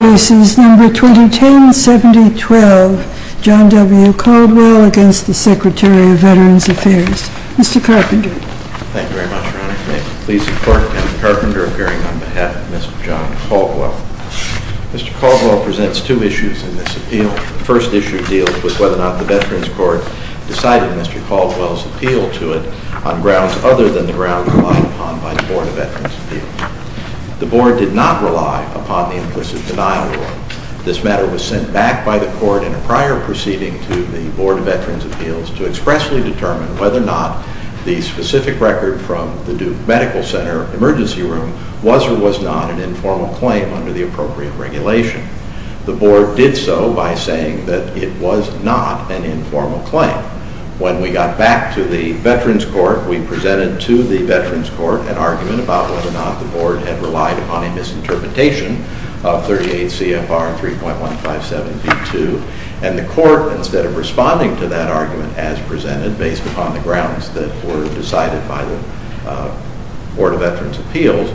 This is number 2010-7012, John W. Caldwell against the Secretary of Veterans Affairs. Mr. Carpenter. Thank you very much, Your Honor. May it please the Court, Mr. Carpenter appearing on behalf of Mr. John Caldwell. Mr. Caldwell presents two issues in this appeal. The first issue deals with whether or not the Veterans Court decided Mr. Caldwell's appeal to it on grounds other than the grounds relied upon by the Board of Veterans Appeals. The Board did not rely upon the implicit denial rule. This matter was sent back by the Court in a prior proceeding to the Board of Veterans Appeals to expressly determine whether or not the specific record from the Duke Medical Center emergency room was or was not an informal claim under the appropriate regulation. The Board did so by saying that it was not an informal claim. When we got back to the Veterans Court, we presented to the Veterans Court an argument about whether or not the Board had relied upon a misinterpretation of 38 CFR 3.157B2, and the Court, instead of responding to that argument as presented based upon the grounds that were decided by the Board of Veterans Appeals,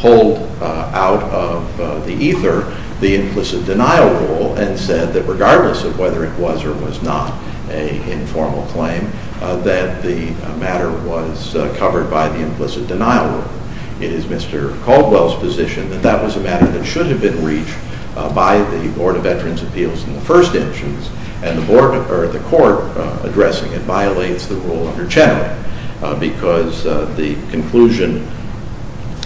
pulled out of the ether the implicit denial rule and said that regardless of whether it was or was not an informal claim, that the matter was covered by the implicit denial rule. It is Mr. Caldwell's position that that was a matter that should have been reached by the Board of Veterans Appeals in the first instance, and the Court addressing it violates the rule under Chenoweth because the conclusion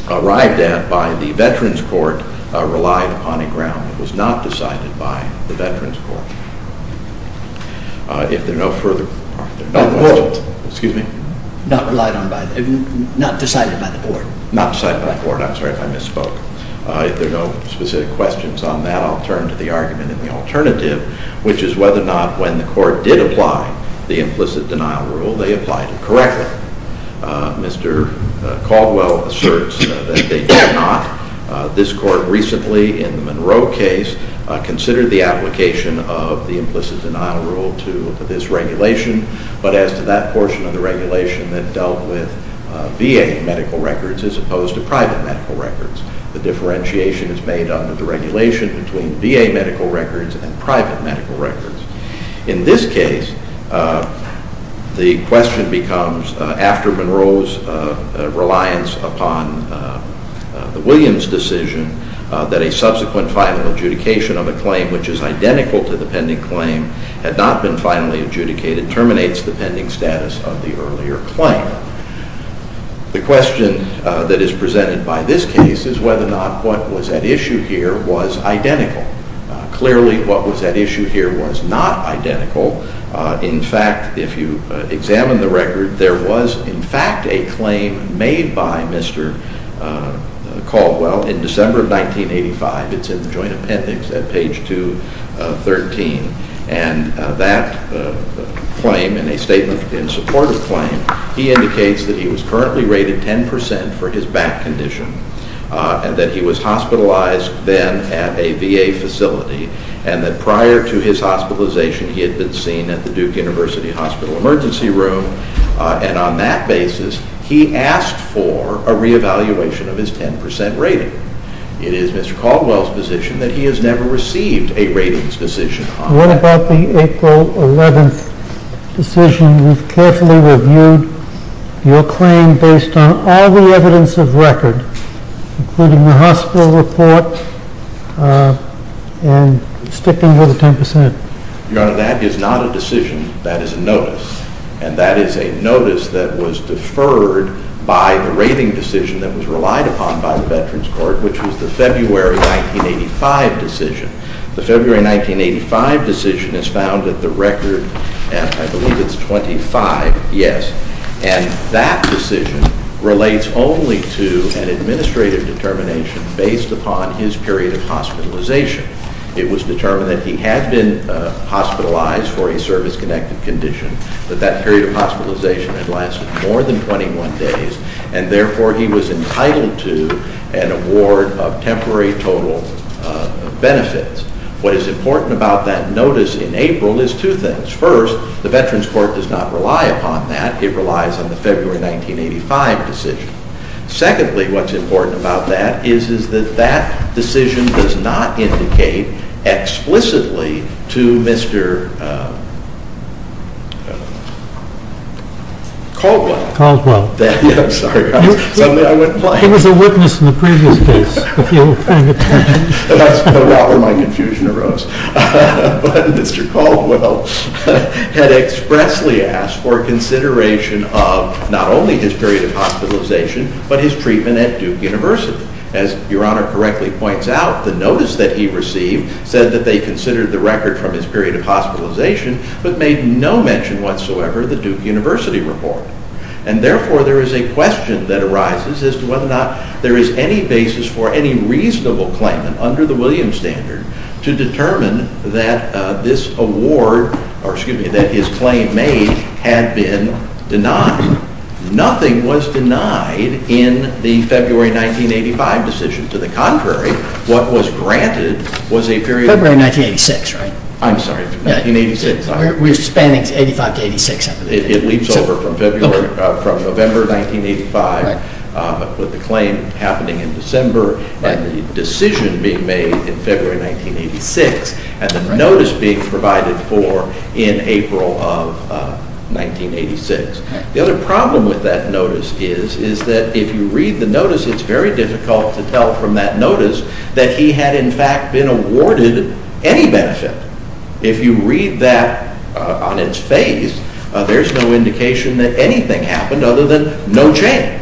arrived at by the Veterans Court relied upon a ground that was not decided by the Veterans Court. If there are no further... Excuse me? Not decided by the Board. Not decided by the Board. I'm sorry if I misspoke. If there are no specific questions on that, I'll turn to the argument in the alternative, which is whether or not when the Court did apply the implicit denial rule, they applied it correctly. Mr. Caldwell asserts that they did not. This Court recently in the Monroe case considered the application of the implicit denial rule to this regulation, but as to that portion of the regulation that dealt with VA medical records as opposed to private medical records. The differentiation is made under the regulation between VA medical records and private medical records. In this case, the question becomes after Monroe's reliance upon the Williams decision that a subsequent final adjudication of a claim which is identical to the pending claim had not been finally adjudicated terminates the pending status of the earlier claim. The question that is presented by this case is whether or not what was at issue here was identical. Clearly, what was at issue here was not identical. In fact, if you examine the record, there was in fact a claim made by Mr. Caldwell in December of 1985. It's in the joint appendix at page 213. And that claim, in a statement in support of the claim, he indicates that he was currently rated 10% for his back condition and that he was hospitalized then at a VA facility and that prior to his hospitalization, he had been seen at the Duke University Hospital emergency room. And on that basis, he asked for a reevaluation of his 10% rating. It is Mr. Caldwell's position that he has never received a ratings decision on that. What about the April 11th decision? We've carefully reviewed your claim based on all the evidence of record, including the hospital report and sticking with the 10%. Your Honor, that is not a decision. That is a notice. And that is a notice that was deferred by the rating decision that was relied upon by the Veterans Court, which was the February 1985 decision. The February 1985 decision is found at the record, and I believe it's 25. Yes. And that decision relates only to an administrative determination based upon his period of hospitalization. It was determined that he had been hospitalized for a service-connected condition, that that period of hospitalization had lasted more than 21 days, and therefore he was entitled to an award of temporary total benefits. What is important about that notice in April is two things. First, the Veterans Court does not rely upon that. It relies on the February 1985 decision. Secondly, what's important about that is that that decision does not indicate explicitly to Mr. Caldwell Caldwell. I'm sorry. I went blank. He was a witness in the previous case. That's about where my confusion arose. But Mr. Caldwell had expressly asked for consideration of not only his period of hospitalization, but his treatment at Duke University. As Your Honor correctly points out, the notice that he received said that they considered the record from his period of hospitalization, but made no mention whatsoever of the Duke University report. And therefore there is a question that arises as to whether or not there is any basis for any reasonable claim under the Williams standard to determine that this award, or excuse me, that his claim made had been denied. Nothing was denied in the February 1985 decision. To the contrary, what was granted was a period of- February 1986, right? I'm sorry, 1986. We're spanning 85 to 86. It leaps over from November 1985 with the claim happening in December and the decision being made in February 1986 and the notice being provided for in April of 1986. The other problem with that notice is that if you read the notice, it's very difficult to tell from that notice that he had in fact been awarded any benefit. If you read that on its face, there's no indication that anything happened other than no change.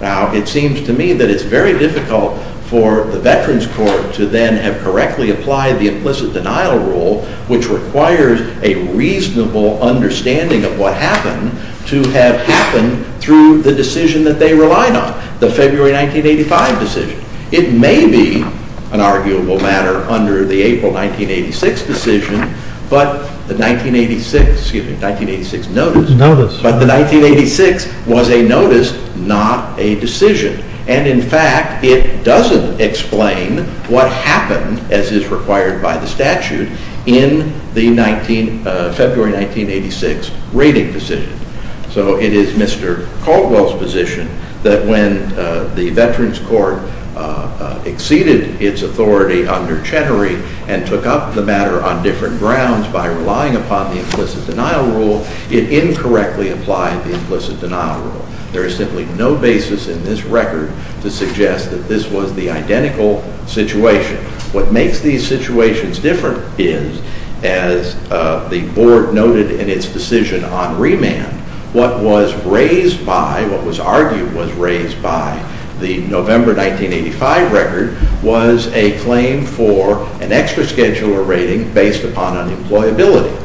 Now it seems to me that it's very difficult for the Veterans Court to then have correctly applied the implicit denial rule, which requires a reasonable understanding of what happened, to have happened through the decision that they relied on, the February 1985 decision. It may be an arguable matter under the April 1986 decision, but the 1986, excuse me, 1986 notice- Notice. But the 1986 was a notice, not a decision. And in fact, it doesn't explain what happened, as is required by the statute, in the February 1986 rating decision. So it is Mr. Caldwell's position that when the Veterans Court exceeded its authority under Chenery and took up the matter on different grounds by relying upon the implicit denial rule, it incorrectly applied the implicit denial rule. There is simply no basis in this record to suggest that this was the identical situation. What makes these situations different is, as the board noted in its decision on remand, what was raised by, what was argued was raised by the November 1985 record, was a claim for an extra schedule or rating based upon unemployability.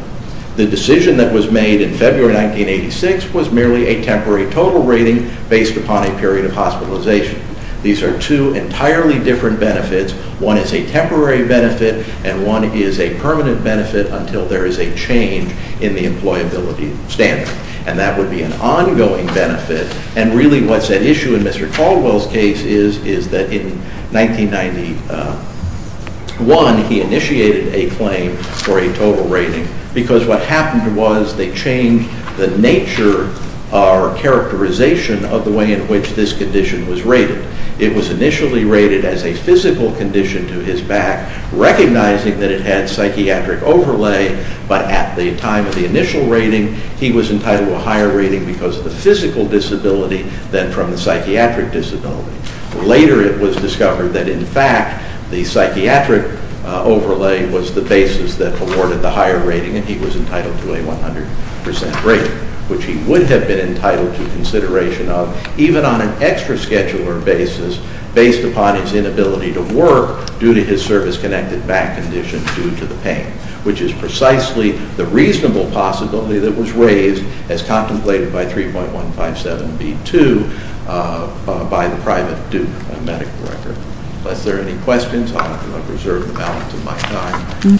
The decision that was made in February 1986 was merely a temporary total rating based upon a period of hospitalization. These are two entirely different benefits. One is a temporary benefit and one is a permanent benefit until there is a change in the employability standard. And that would be an ongoing benefit. And really what's at issue in Mr. Caldwell's case is, is that in 1991 he initiated a claim for a total rating because what happened was they changed the nature or characterization of the way in which this condition was rated. It was initially rated as a physical condition to his back, recognizing that it had psychiatric overlay, but at the time of the initial rating he was entitled to a higher rating because of the physical disability than from the psychiatric disability. Later it was discovered that in fact the psychiatric overlay was the basis that afforded the higher rating, and he was entitled to a 100% rating, which he would have been entitled to consideration of, even on an extra scheduler basis based upon his inability to work due to his service-connected back condition due to the pain, which is precisely the reasonable possibility that was raised as contemplated by 3.157B2 by the private Duke medical record. Unless there are any questions, I'll reserve the balance of my time. Okay.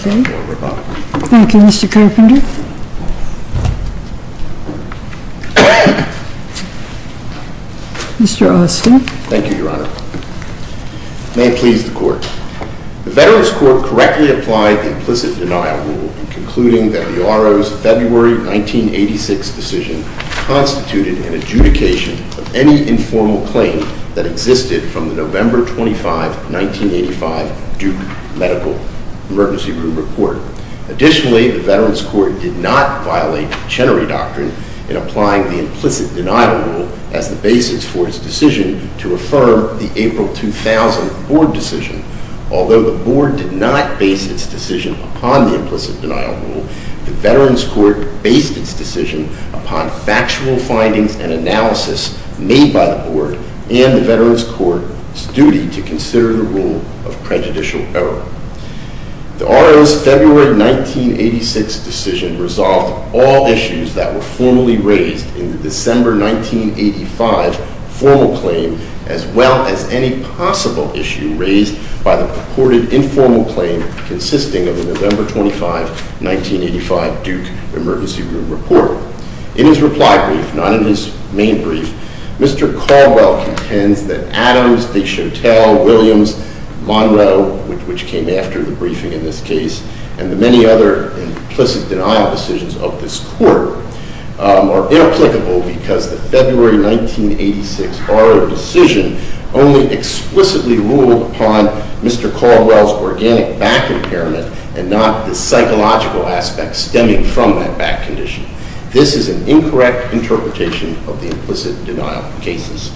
Thank you, Mr. Carpenter. Mr. Austin. May it please the Court. The Veterans Court correctly applied the implicit denial rule in concluding that the RO's February 1986 decision constituted an adjudication of any informal claim that existed from the November 25, 1985, Duke medical emergency room report. Additionally, the Veterans Court did not violate the Chenery Doctrine in applying the implicit denial rule as the basis for its decision to affirm the April 2000 board decision. Although the board did not base its decision upon the implicit denial rule, the Veterans Court based its decision upon factual findings and analysis made by the board and the Veterans Court's duty to consider the rule of prejudicial error. The RO's February 1986 decision resolved all issues that were formally raised in the December 1985 formal claim as well as any possible issue raised by the purported informal claim consisting of the November 25, 1985, Duke emergency room report. In his reply brief, not in his main brief, Mr. Caldwell contends that Adams, Deschatelle, Williams, Monroe, which came after the briefing in this case, and the many other implicit denial decisions of this court are inapplicable because the February 1986 RO decision only explicitly ruled upon Mr. Caldwell's organic back impairment and not the psychological aspect stemming from that back condition. This is an incorrect interpretation of the implicit denial cases,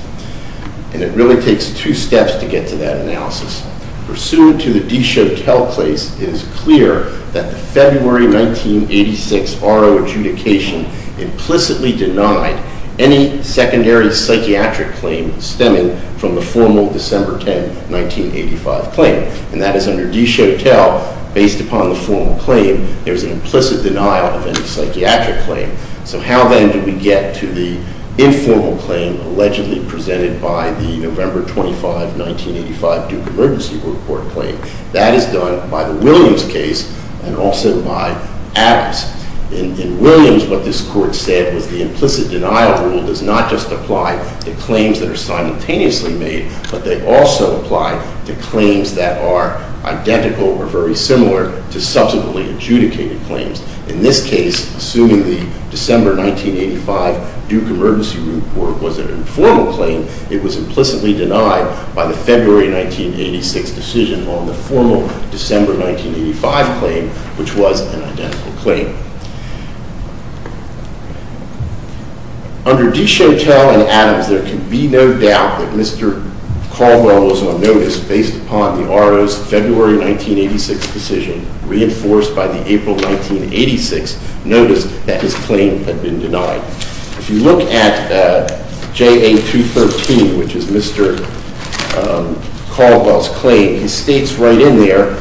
and it really takes two steps to get to that analysis. Pursuant to the Deschatelle case, it is clear that the February 1986 RO adjudication implicitly denied any secondary psychiatric claim stemming from the formal December 10, 1985 claim. And that is under Deschatelle, based upon the formal claim, there is an implicit denial of any psychiatric claim. So how then do we get to the informal claim allegedly presented by the November 25, 1985, Duke emergency room report claim? That is done by the Williams case and also by Adams. In Williams, what this court said was the implicit denial rule does not just apply to claims that are simultaneously made, but they also apply to claims that are identical or very similar to subsequently adjudicated claims. In this case, assuming the December 1985 Duke emergency room report was an informal claim, it was implicitly denied by the February 1986 decision on the formal December 1985 claim, which was an identical claim. Under Deschatelle and Adams, there can be no doubt that Mr. Caldwell was on notice based upon the RO's February 1986 decision reinforced by the April 1986 notice that his claim had been denied. If you look at JA 213, which is Mr. Caldwell's claim, he states right in there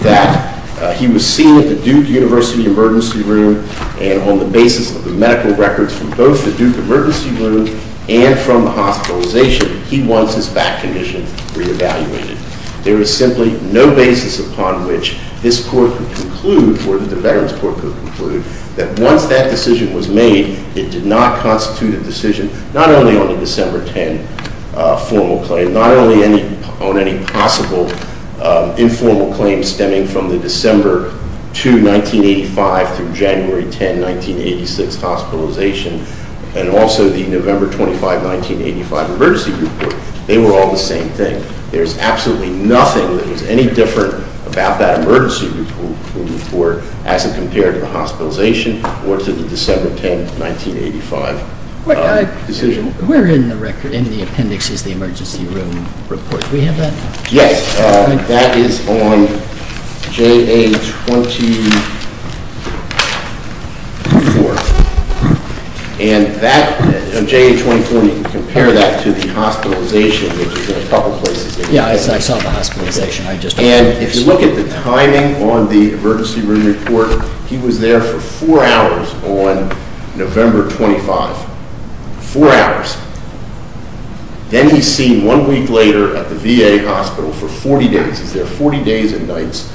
that he was seen at the Duke University emergency room and on the basis of the medical records from both the Duke emergency room and from the hospitalization, he wants his back condition re-evaluated. There is simply no basis upon which this court could conclude or that the Veterans Court could conclude that once that decision was made, it did not constitute a decision not only on the December 10 formal claim, but not only on any possible informal claim stemming from the December 2, 1985 through January 10, 1986 hospitalization, and also the November 25, 1985 emergency report. They were all the same thing. There's absolutely nothing that was any different about that emergency room report as it compared to the hospitalization or to the December 10, 1985 decision. Where in the appendix is the emergency room report? Do we have that? Yes. That is on JA 24. And on JA 24, you can compare that to the hospitalization, which is in a couple places. Yeah, I saw the hospitalization. And if you look at the timing on the emergency room report, he was there for four hours on November 25. Four hours. Then he's seen one week later at the VA hospital for 40 days. Is there 40 days and nights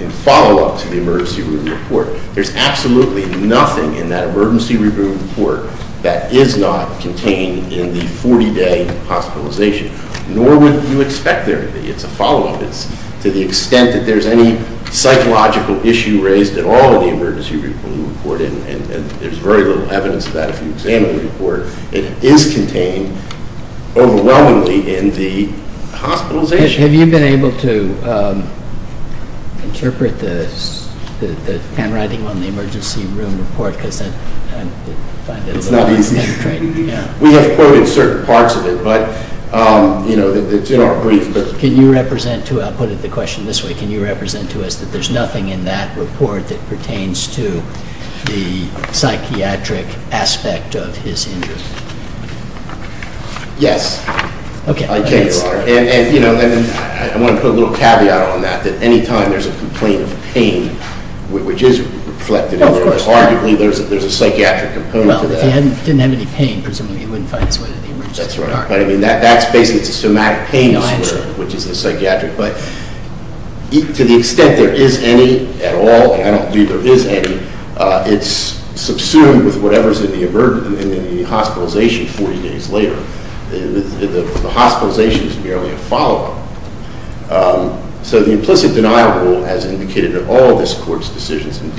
in follow-up to the emergency room report? There's absolutely nothing in that emergency room report that is not contained in the 40-day hospitalization. Nor would you expect there to be. It's a follow-up. It's to the extent that there's any psychological issue raised at all in the emergency room report, and there's very little evidence of that if you examine the report, it is contained overwhelmingly in the hospitalization. Have you been able to interpret the handwriting on the emergency room report? It's not easy. We have quoted certain parts of it, but it's in our brief. I'll put it the question this way. Can you represent to us that there's nothing in that report that pertains to the psychiatric aspect of his injury? Yes. Okay. I want to put a little caveat on that, that any time there's a complaint of pain, which is reflected in there, arguably there's a psychiatric component to that. Well, if he didn't have any pain, presumably he wouldn't find his way to the emergency room. That's right. But, I mean, that's basically, it's a somatic pain disorder, which is a psychiatric. But to the extent there is any at all, and I don't believe there is any, it's subsumed with whatever's in the hospitalization 40 days later. The hospitalization is merely a follow-up. So the implicit denial rule has indicated that all of this court's decisions, and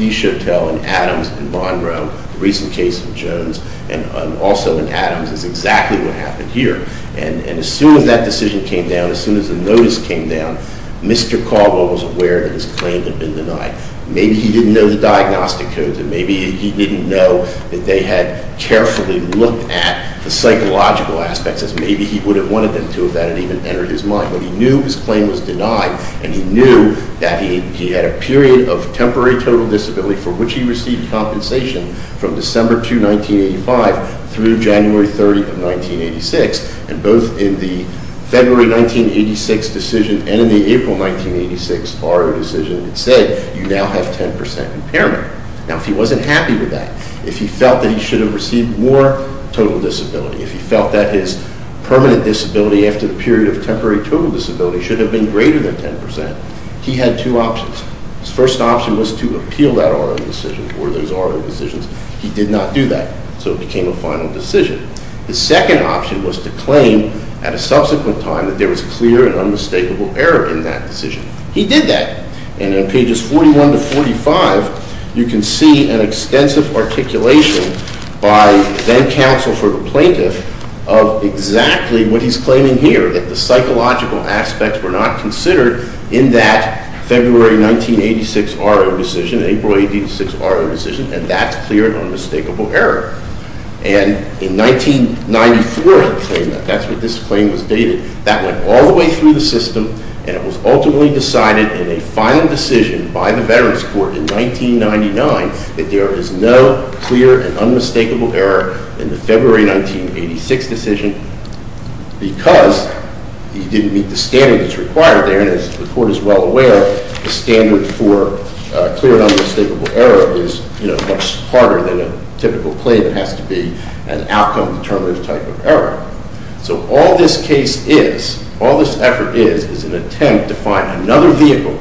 Adams and Monroe, the recent case of Jones, and also in Adams is exactly what happened here. And as soon as that decision came down, as soon as the notice came down, Mr. Caldwell was aware that his claim had been denied. Maybe he didn't know the diagnostic codes, and maybe he didn't know that they had carefully looked at the psychological aspects, as maybe he would have wanted them to if that had even entered his mind. But he knew his claim was denied, and he knew that he had a period of temporary total disability for which he received compensation from December 2, 1985 through January 30 of 1986. And both in the February 1986 decision and in the April 1986 bar decision, it said, you now have 10% impairment. Now, if he wasn't happy with that, if he felt that he should have received more total disability, if he felt that his permanent disability after the period of temporary total disability should have been greater than 10%, he had two options. His first option was to appeal that R.O. decision or those R.O. decisions. He did not do that, so it became a final decision. His second option was to claim at a subsequent time that there was clear and unmistakable error in that decision. He did that. And in pages 41 to 45, you can see an extensive articulation by then counsel for the plaintiff of exactly what he's claiming here, that the psychological aspects were not considered in that February 1986 R.O. decision, April 1986 R.O. decision, and that's clear and unmistakable error. And in 1994, he claimed that. That's when this claim was dated. That went all the way through the system, and it was ultimately decided in a final decision by the Veterans Court in 1999 that there is no clear and unmistakable error in the February 1986 decision because he didn't meet the standards required there, and as the court is well aware, the standard for clear and unmistakable error is much harder than a typical claim. It has to be an outcome-determinative type of error. So all this case is, all this effort is, is an attempt to find another vehicle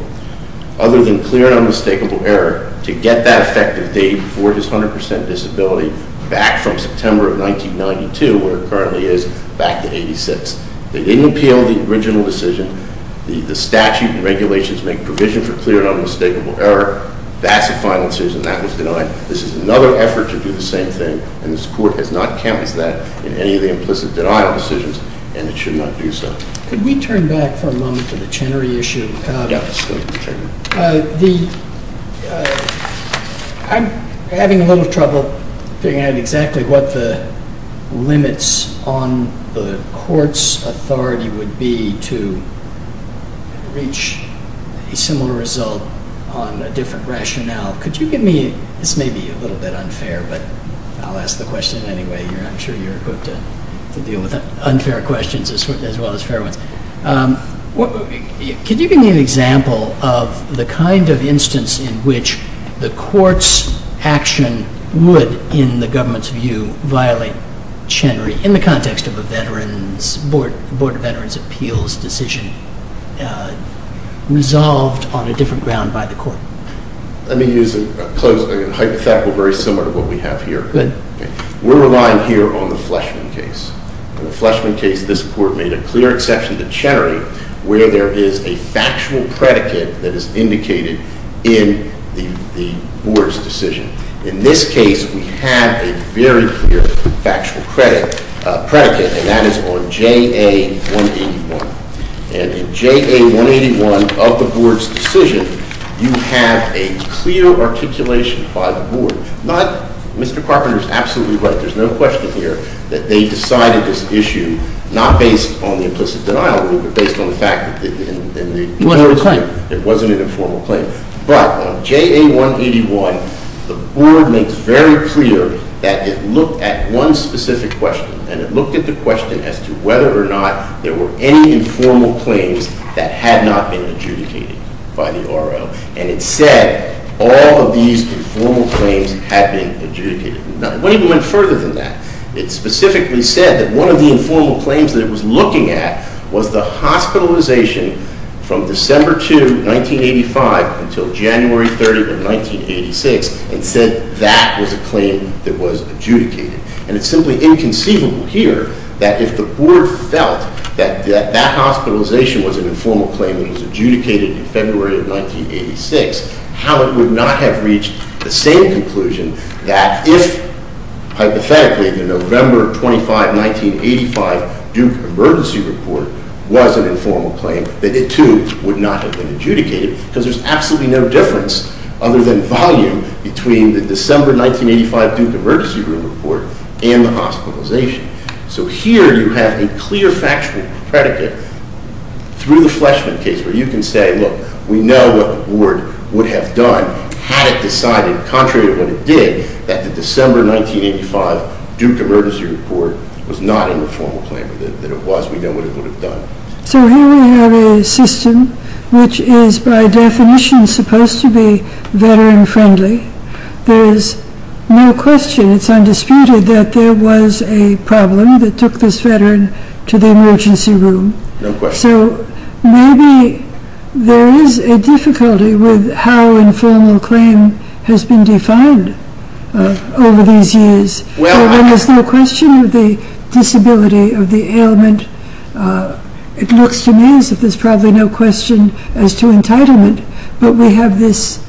other than clear and unmistakable error to get that effective date for his 100% disability back from September of 1992, where it currently is, back to 86. They didn't appeal the original decision. The statute and regulations make provision for clear and unmistakable error. That's a final decision. That was denied. This is another effort to do the same thing, and this court has not counted that in any of the implicit denial decisions, and it should not do so. Could we turn back for a moment to the Chenery issue? Yes. I'm having a little trouble figuring out exactly what the limits on the court's authority would be to reach a similar result on a different rationale. This may be a little bit unfair, but I'll ask the question anyway. I'm sure you're equipped to deal with unfair questions as well as fair ones. Could you give me an example of the kind of instance in which the court's action would, in the government's view, violate Chenery in the context of a board of veterans' appeals decision resolved on a different ground by the court? Let me use a hypothetical very similar to what we have here. We're relying here on the Fleshman case. In the Fleshman case, this court made a clear exception to Chenery where there is a factual predicate that is indicated in the board's decision. In this case, we have a very clear factual predicate, and that is on J.A. 181. And in J.A. 181 of the board's decision, you have a clear articulation by the board. Mr. Carpenter is absolutely right. There's no question here that they decided this issue not based on the implicit denial rule, but based on the fact that it wasn't an informal claim. But on J.A. 181, the board makes very clear that it looked at one specific question. And it looked at the question as to whether or not there were any informal claims that had not been adjudicated by the R.L. And it said all of these informal claims had been adjudicated. It went even further than that. It specifically said that one of the informal claims that it was looking at was the hospitalization from December 2, 1985, until January 30, 1986, and said that was a claim that was adjudicated. And it's simply inconceivable here that if the board felt that that hospitalization was an informal claim that was adjudicated in February of 1986, how it would not have reached the same conclusion that if, hypothetically, the November 25, 1985 Duke Emergency Report was an informal claim, that it, too, would not have been adjudicated. Because there's absolutely no difference, other than volume, between the December 1985 Duke Emergency Report and the hospitalization. So here you have a clear factual predicate through the Fleshman case where you can say, look, we know what the board would have done had it decided, contrary to what it did, that the December 1985 Duke Emergency Report was not an informal claim, or that it was. We know what it would have done. So here we have a system which is, by definition, supposed to be veteran-friendly. There is no question, it's undisputed, that there was a problem that took this veteran to the emergency room. So maybe there is a difficulty with how informal claim has been defined over these years. There's no question of the disability, of the ailment. It looks to me as if there's probably no question as to entitlement. But we have this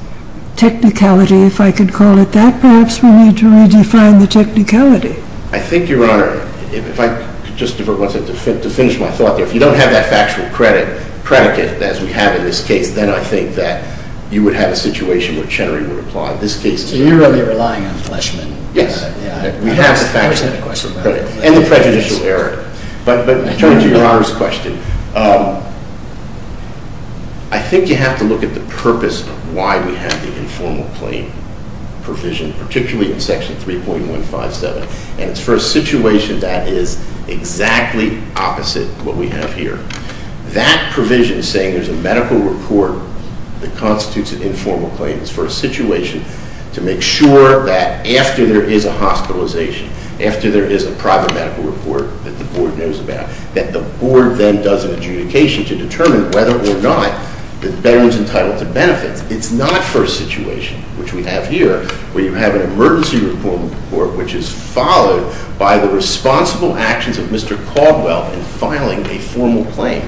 technicality, if I could call it that. Perhaps we need to redefine the technicality. I think, Your Honor, if I could just defer one second to finish my thought there. If you don't have that factual predicate, as we have in this case, then I think that you would have a situation where Chenery would apply. So you're really relying on Fleshman? Yes. We have the factual predicate and the prejudicial error. But in terms of Your Honor's question, I think you have to look at the purpose of why we have the informal claim provision, particularly in Section 3.157, and it's for a situation that is exactly opposite what we have here. That provision is saying there's a medical report that constitutes an informal claim. It's for a situation to make sure that after there is a hospitalization, after there is a private medical report that the board knows about, that the board then does an adjudication to determine whether or not the veteran's entitled to benefits. It's not for a situation, which we have here, where you have an emergency report, which is followed by the responsible actions of Mr. Caldwell in filing a formal claim.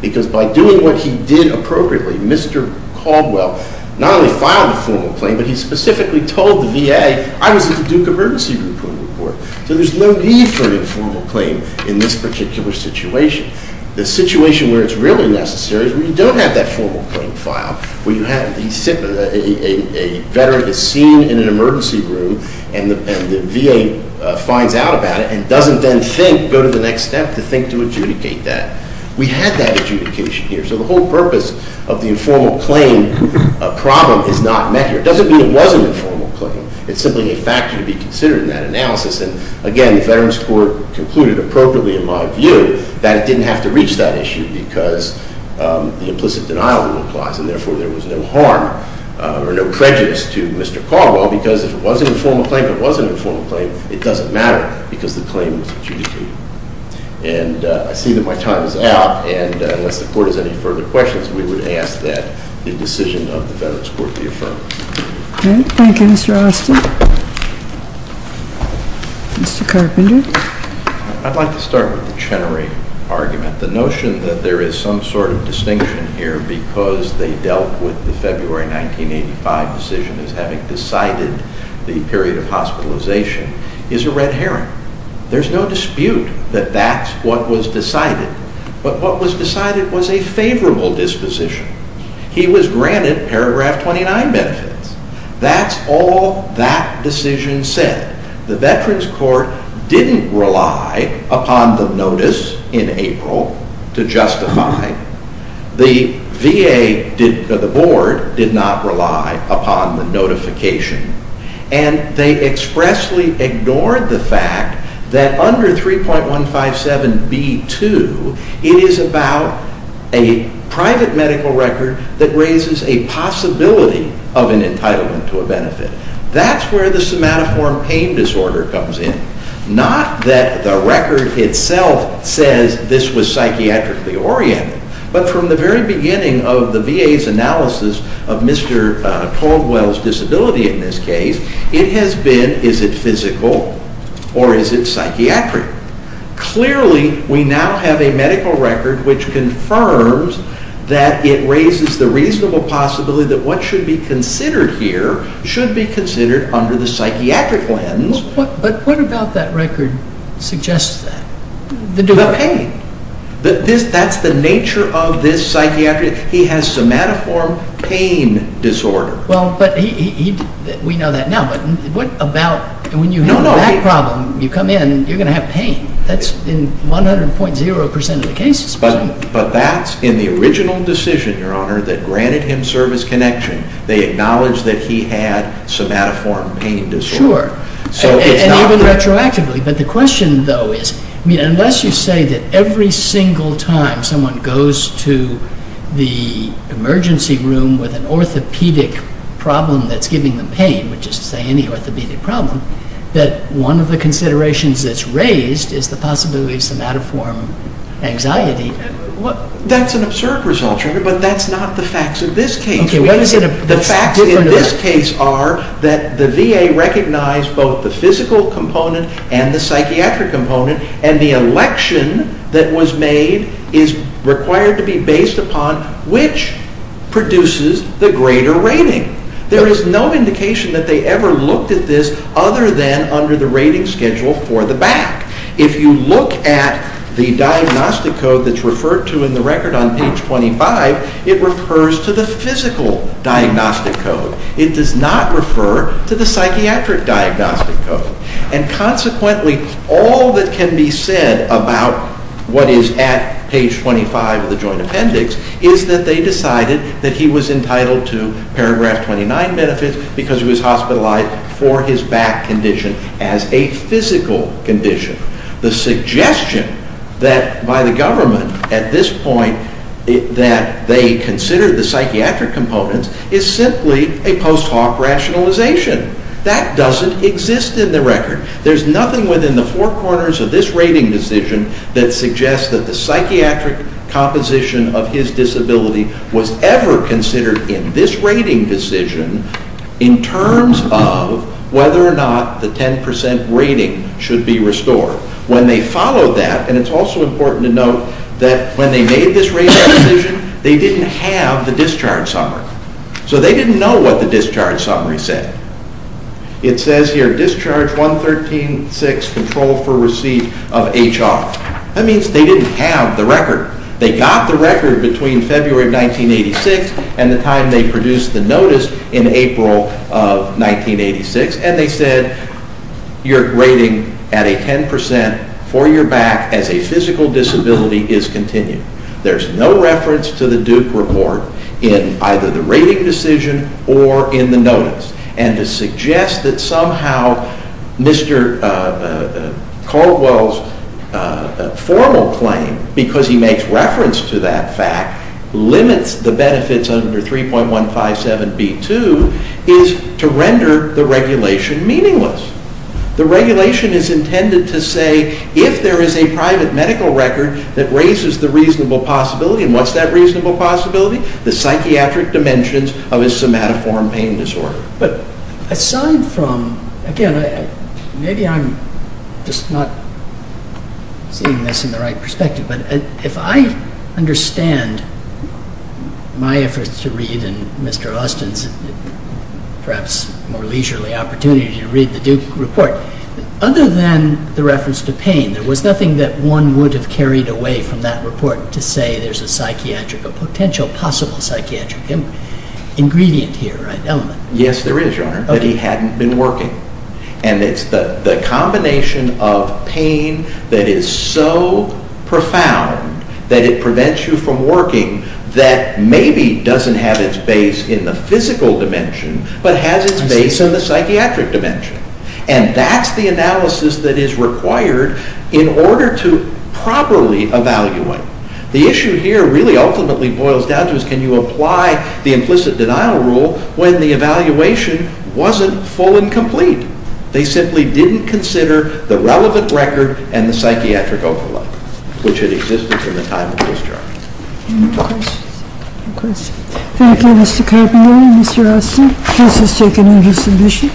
Because by doing what he did appropriately, Mr. Caldwell not only filed a formal claim, but he specifically told the VA, I was at the Duke Emergency Group for a report. So there's no need for an informal claim in this particular situation. The situation where it's really necessary is when you don't have that formal claim file, where you have a veteran is seen in an emergency room and the VA finds out about it and doesn't then think, go to the next step to think to adjudicate that. We have that adjudication here. So the whole purpose of the informal claim problem is not met here. It doesn't mean it was an informal claim. It's simply a factor to be considered in that analysis. And, again, the Veterans Court concluded appropriately, in my view, that it didn't have to reach that issue because the implicit denial rule applies, and therefore there was no harm or no prejudice to Mr. Caldwell because if it was an informal claim but wasn't an informal claim, it doesn't matter because the claim was adjudicated. And I see that my time is out, and unless the court has any further questions, we would ask that the decision of the Veterans Court be affirmed. Okay. Thank you, Mr. Austin. Mr. Carpenter. I'd like to start with the Chenery argument. The notion that there is some sort of distinction here because they dealt with the February 1985 decision as having decided the period of hospitalization is a red herring. There's no dispute that that's what was decided. But what was decided was a favorable disposition. He was granted paragraph 29 benefits. That's all that decision said. The Veterans Court didn't rely upon the notice in April to justify. The VA, the board, did not rely upon the notification, and they expressly ignored the fact that under 3.157B2, it is about a private medical record that raises a possibility of an entitlement to a benefit. That's where the somatoform pain disorder comes in. Not that the record itself says this was psychiatrically oriented, but from the very beginning of the VA's analysis of Mr. Caldwell's disability in this case, it has been, is it physical or is it psychiatric? Clearly, we now have a medical record which confirms that it raises the reasonable possibility that what should be considered here should be considered under the psychiatric lens. But what about that record suggests that? The pain. That's the nature of this psychiatry. He has somatoform pain disorder. Well, but we know that now, but what about when you have that problem, you come in, you're going to have pain. That's in 100.0% of the cases. But that's in the original decision, Your Honor, that granted him service connection. They acknowledged that he had somatoform pain disorder. Sure. And even retroactively. But the question, though, is, I mean, unless you say that every single time someone goes to the emergency room with an orthopedic problem that's giving them pain, which is to say any orthopedic problem, that one of the considerations that's raised is the possibility of somatoform anxiety. That's an absurd result, Your Honor, but that's not the facts of this case. The facts in this case are that the VA recognized both the physical component and the psychiatric component, and the election that was made is required to be based upon which produces the greater rating. There is no indication that they ever looked at this other than under the rating schedule for the back. If you look at the diagnostic code that's referred to in the record on page 25, it refers to the physical diagnostic code. It does not refer to the psychiatric diagnostic code. And consequently, all that can be said about what is at page 25 of the joint appendix is that they decided that he was entitled to paragraph 29 benefits because he was hospitalized for his back condition as a physical condition. The suggestion that by the government at this point that they considered the psychiatric component is simply a post hoc rationalization. That doesn't exist in the record. There's nothing within the four corners of this rating decision that suggests that the psychiatric composition of his disability was ever considered in this rating decision in terms of whether or not the 10% rating should be restored. When they followed that, and it's also important to note that when they made this rating decision, they didn't have the discharge summary. So they didn't know what the discharge summary said. It says here, discharge 113.6, control for receipt of HR. That means they didn't have the record. They got the record between February of 1986 and the time they produced the notice in April of 1986. And they said your rating at a 10% for your back as a physical disability is continued. There's no reference to the Duke report in either the rating decision or in the notice. And to suggest that somehow Mr. Caldwell's formal claim, because he makes reference to that fact, limits the benefits under 3.157B2 is to render the regulation meaningless. The regulation is intended to say if there is a private medical record that raises the reasonable possibility, and what's that reasonable possibility? The psychiatric dimensions of his somatoform pain disorder. But aside from, again, maybe I'm just not seeing this in the right perspective, but if I understand my efforts to read, and Mr. Austin's perhaps more leisurely opportunity to read the Duke report, other than the reference to pain, there was nothing that one would have carried away from that report to say there's a potential possible psychiatric ingredient here. Yes, there is, Your Honor, that he hadn't been working. And it's the combination of pain that is so profound that it prevents you from working that maybe doesn't have its base in the physical dimension, but has its base in the psychiatric dimension. And that's the analysis that is required in order to properly evaluate. The issue here really ultimately boils down to is can you apply the implicit denial rule when the evaluation wasn't full and complete? They simply didn't consider the relevant record and the psychiatric overlap, which had existed from the time of discharge. Any questions? Thank you, Mr. Caldwell and Mr. Austin. Case is taken into submission.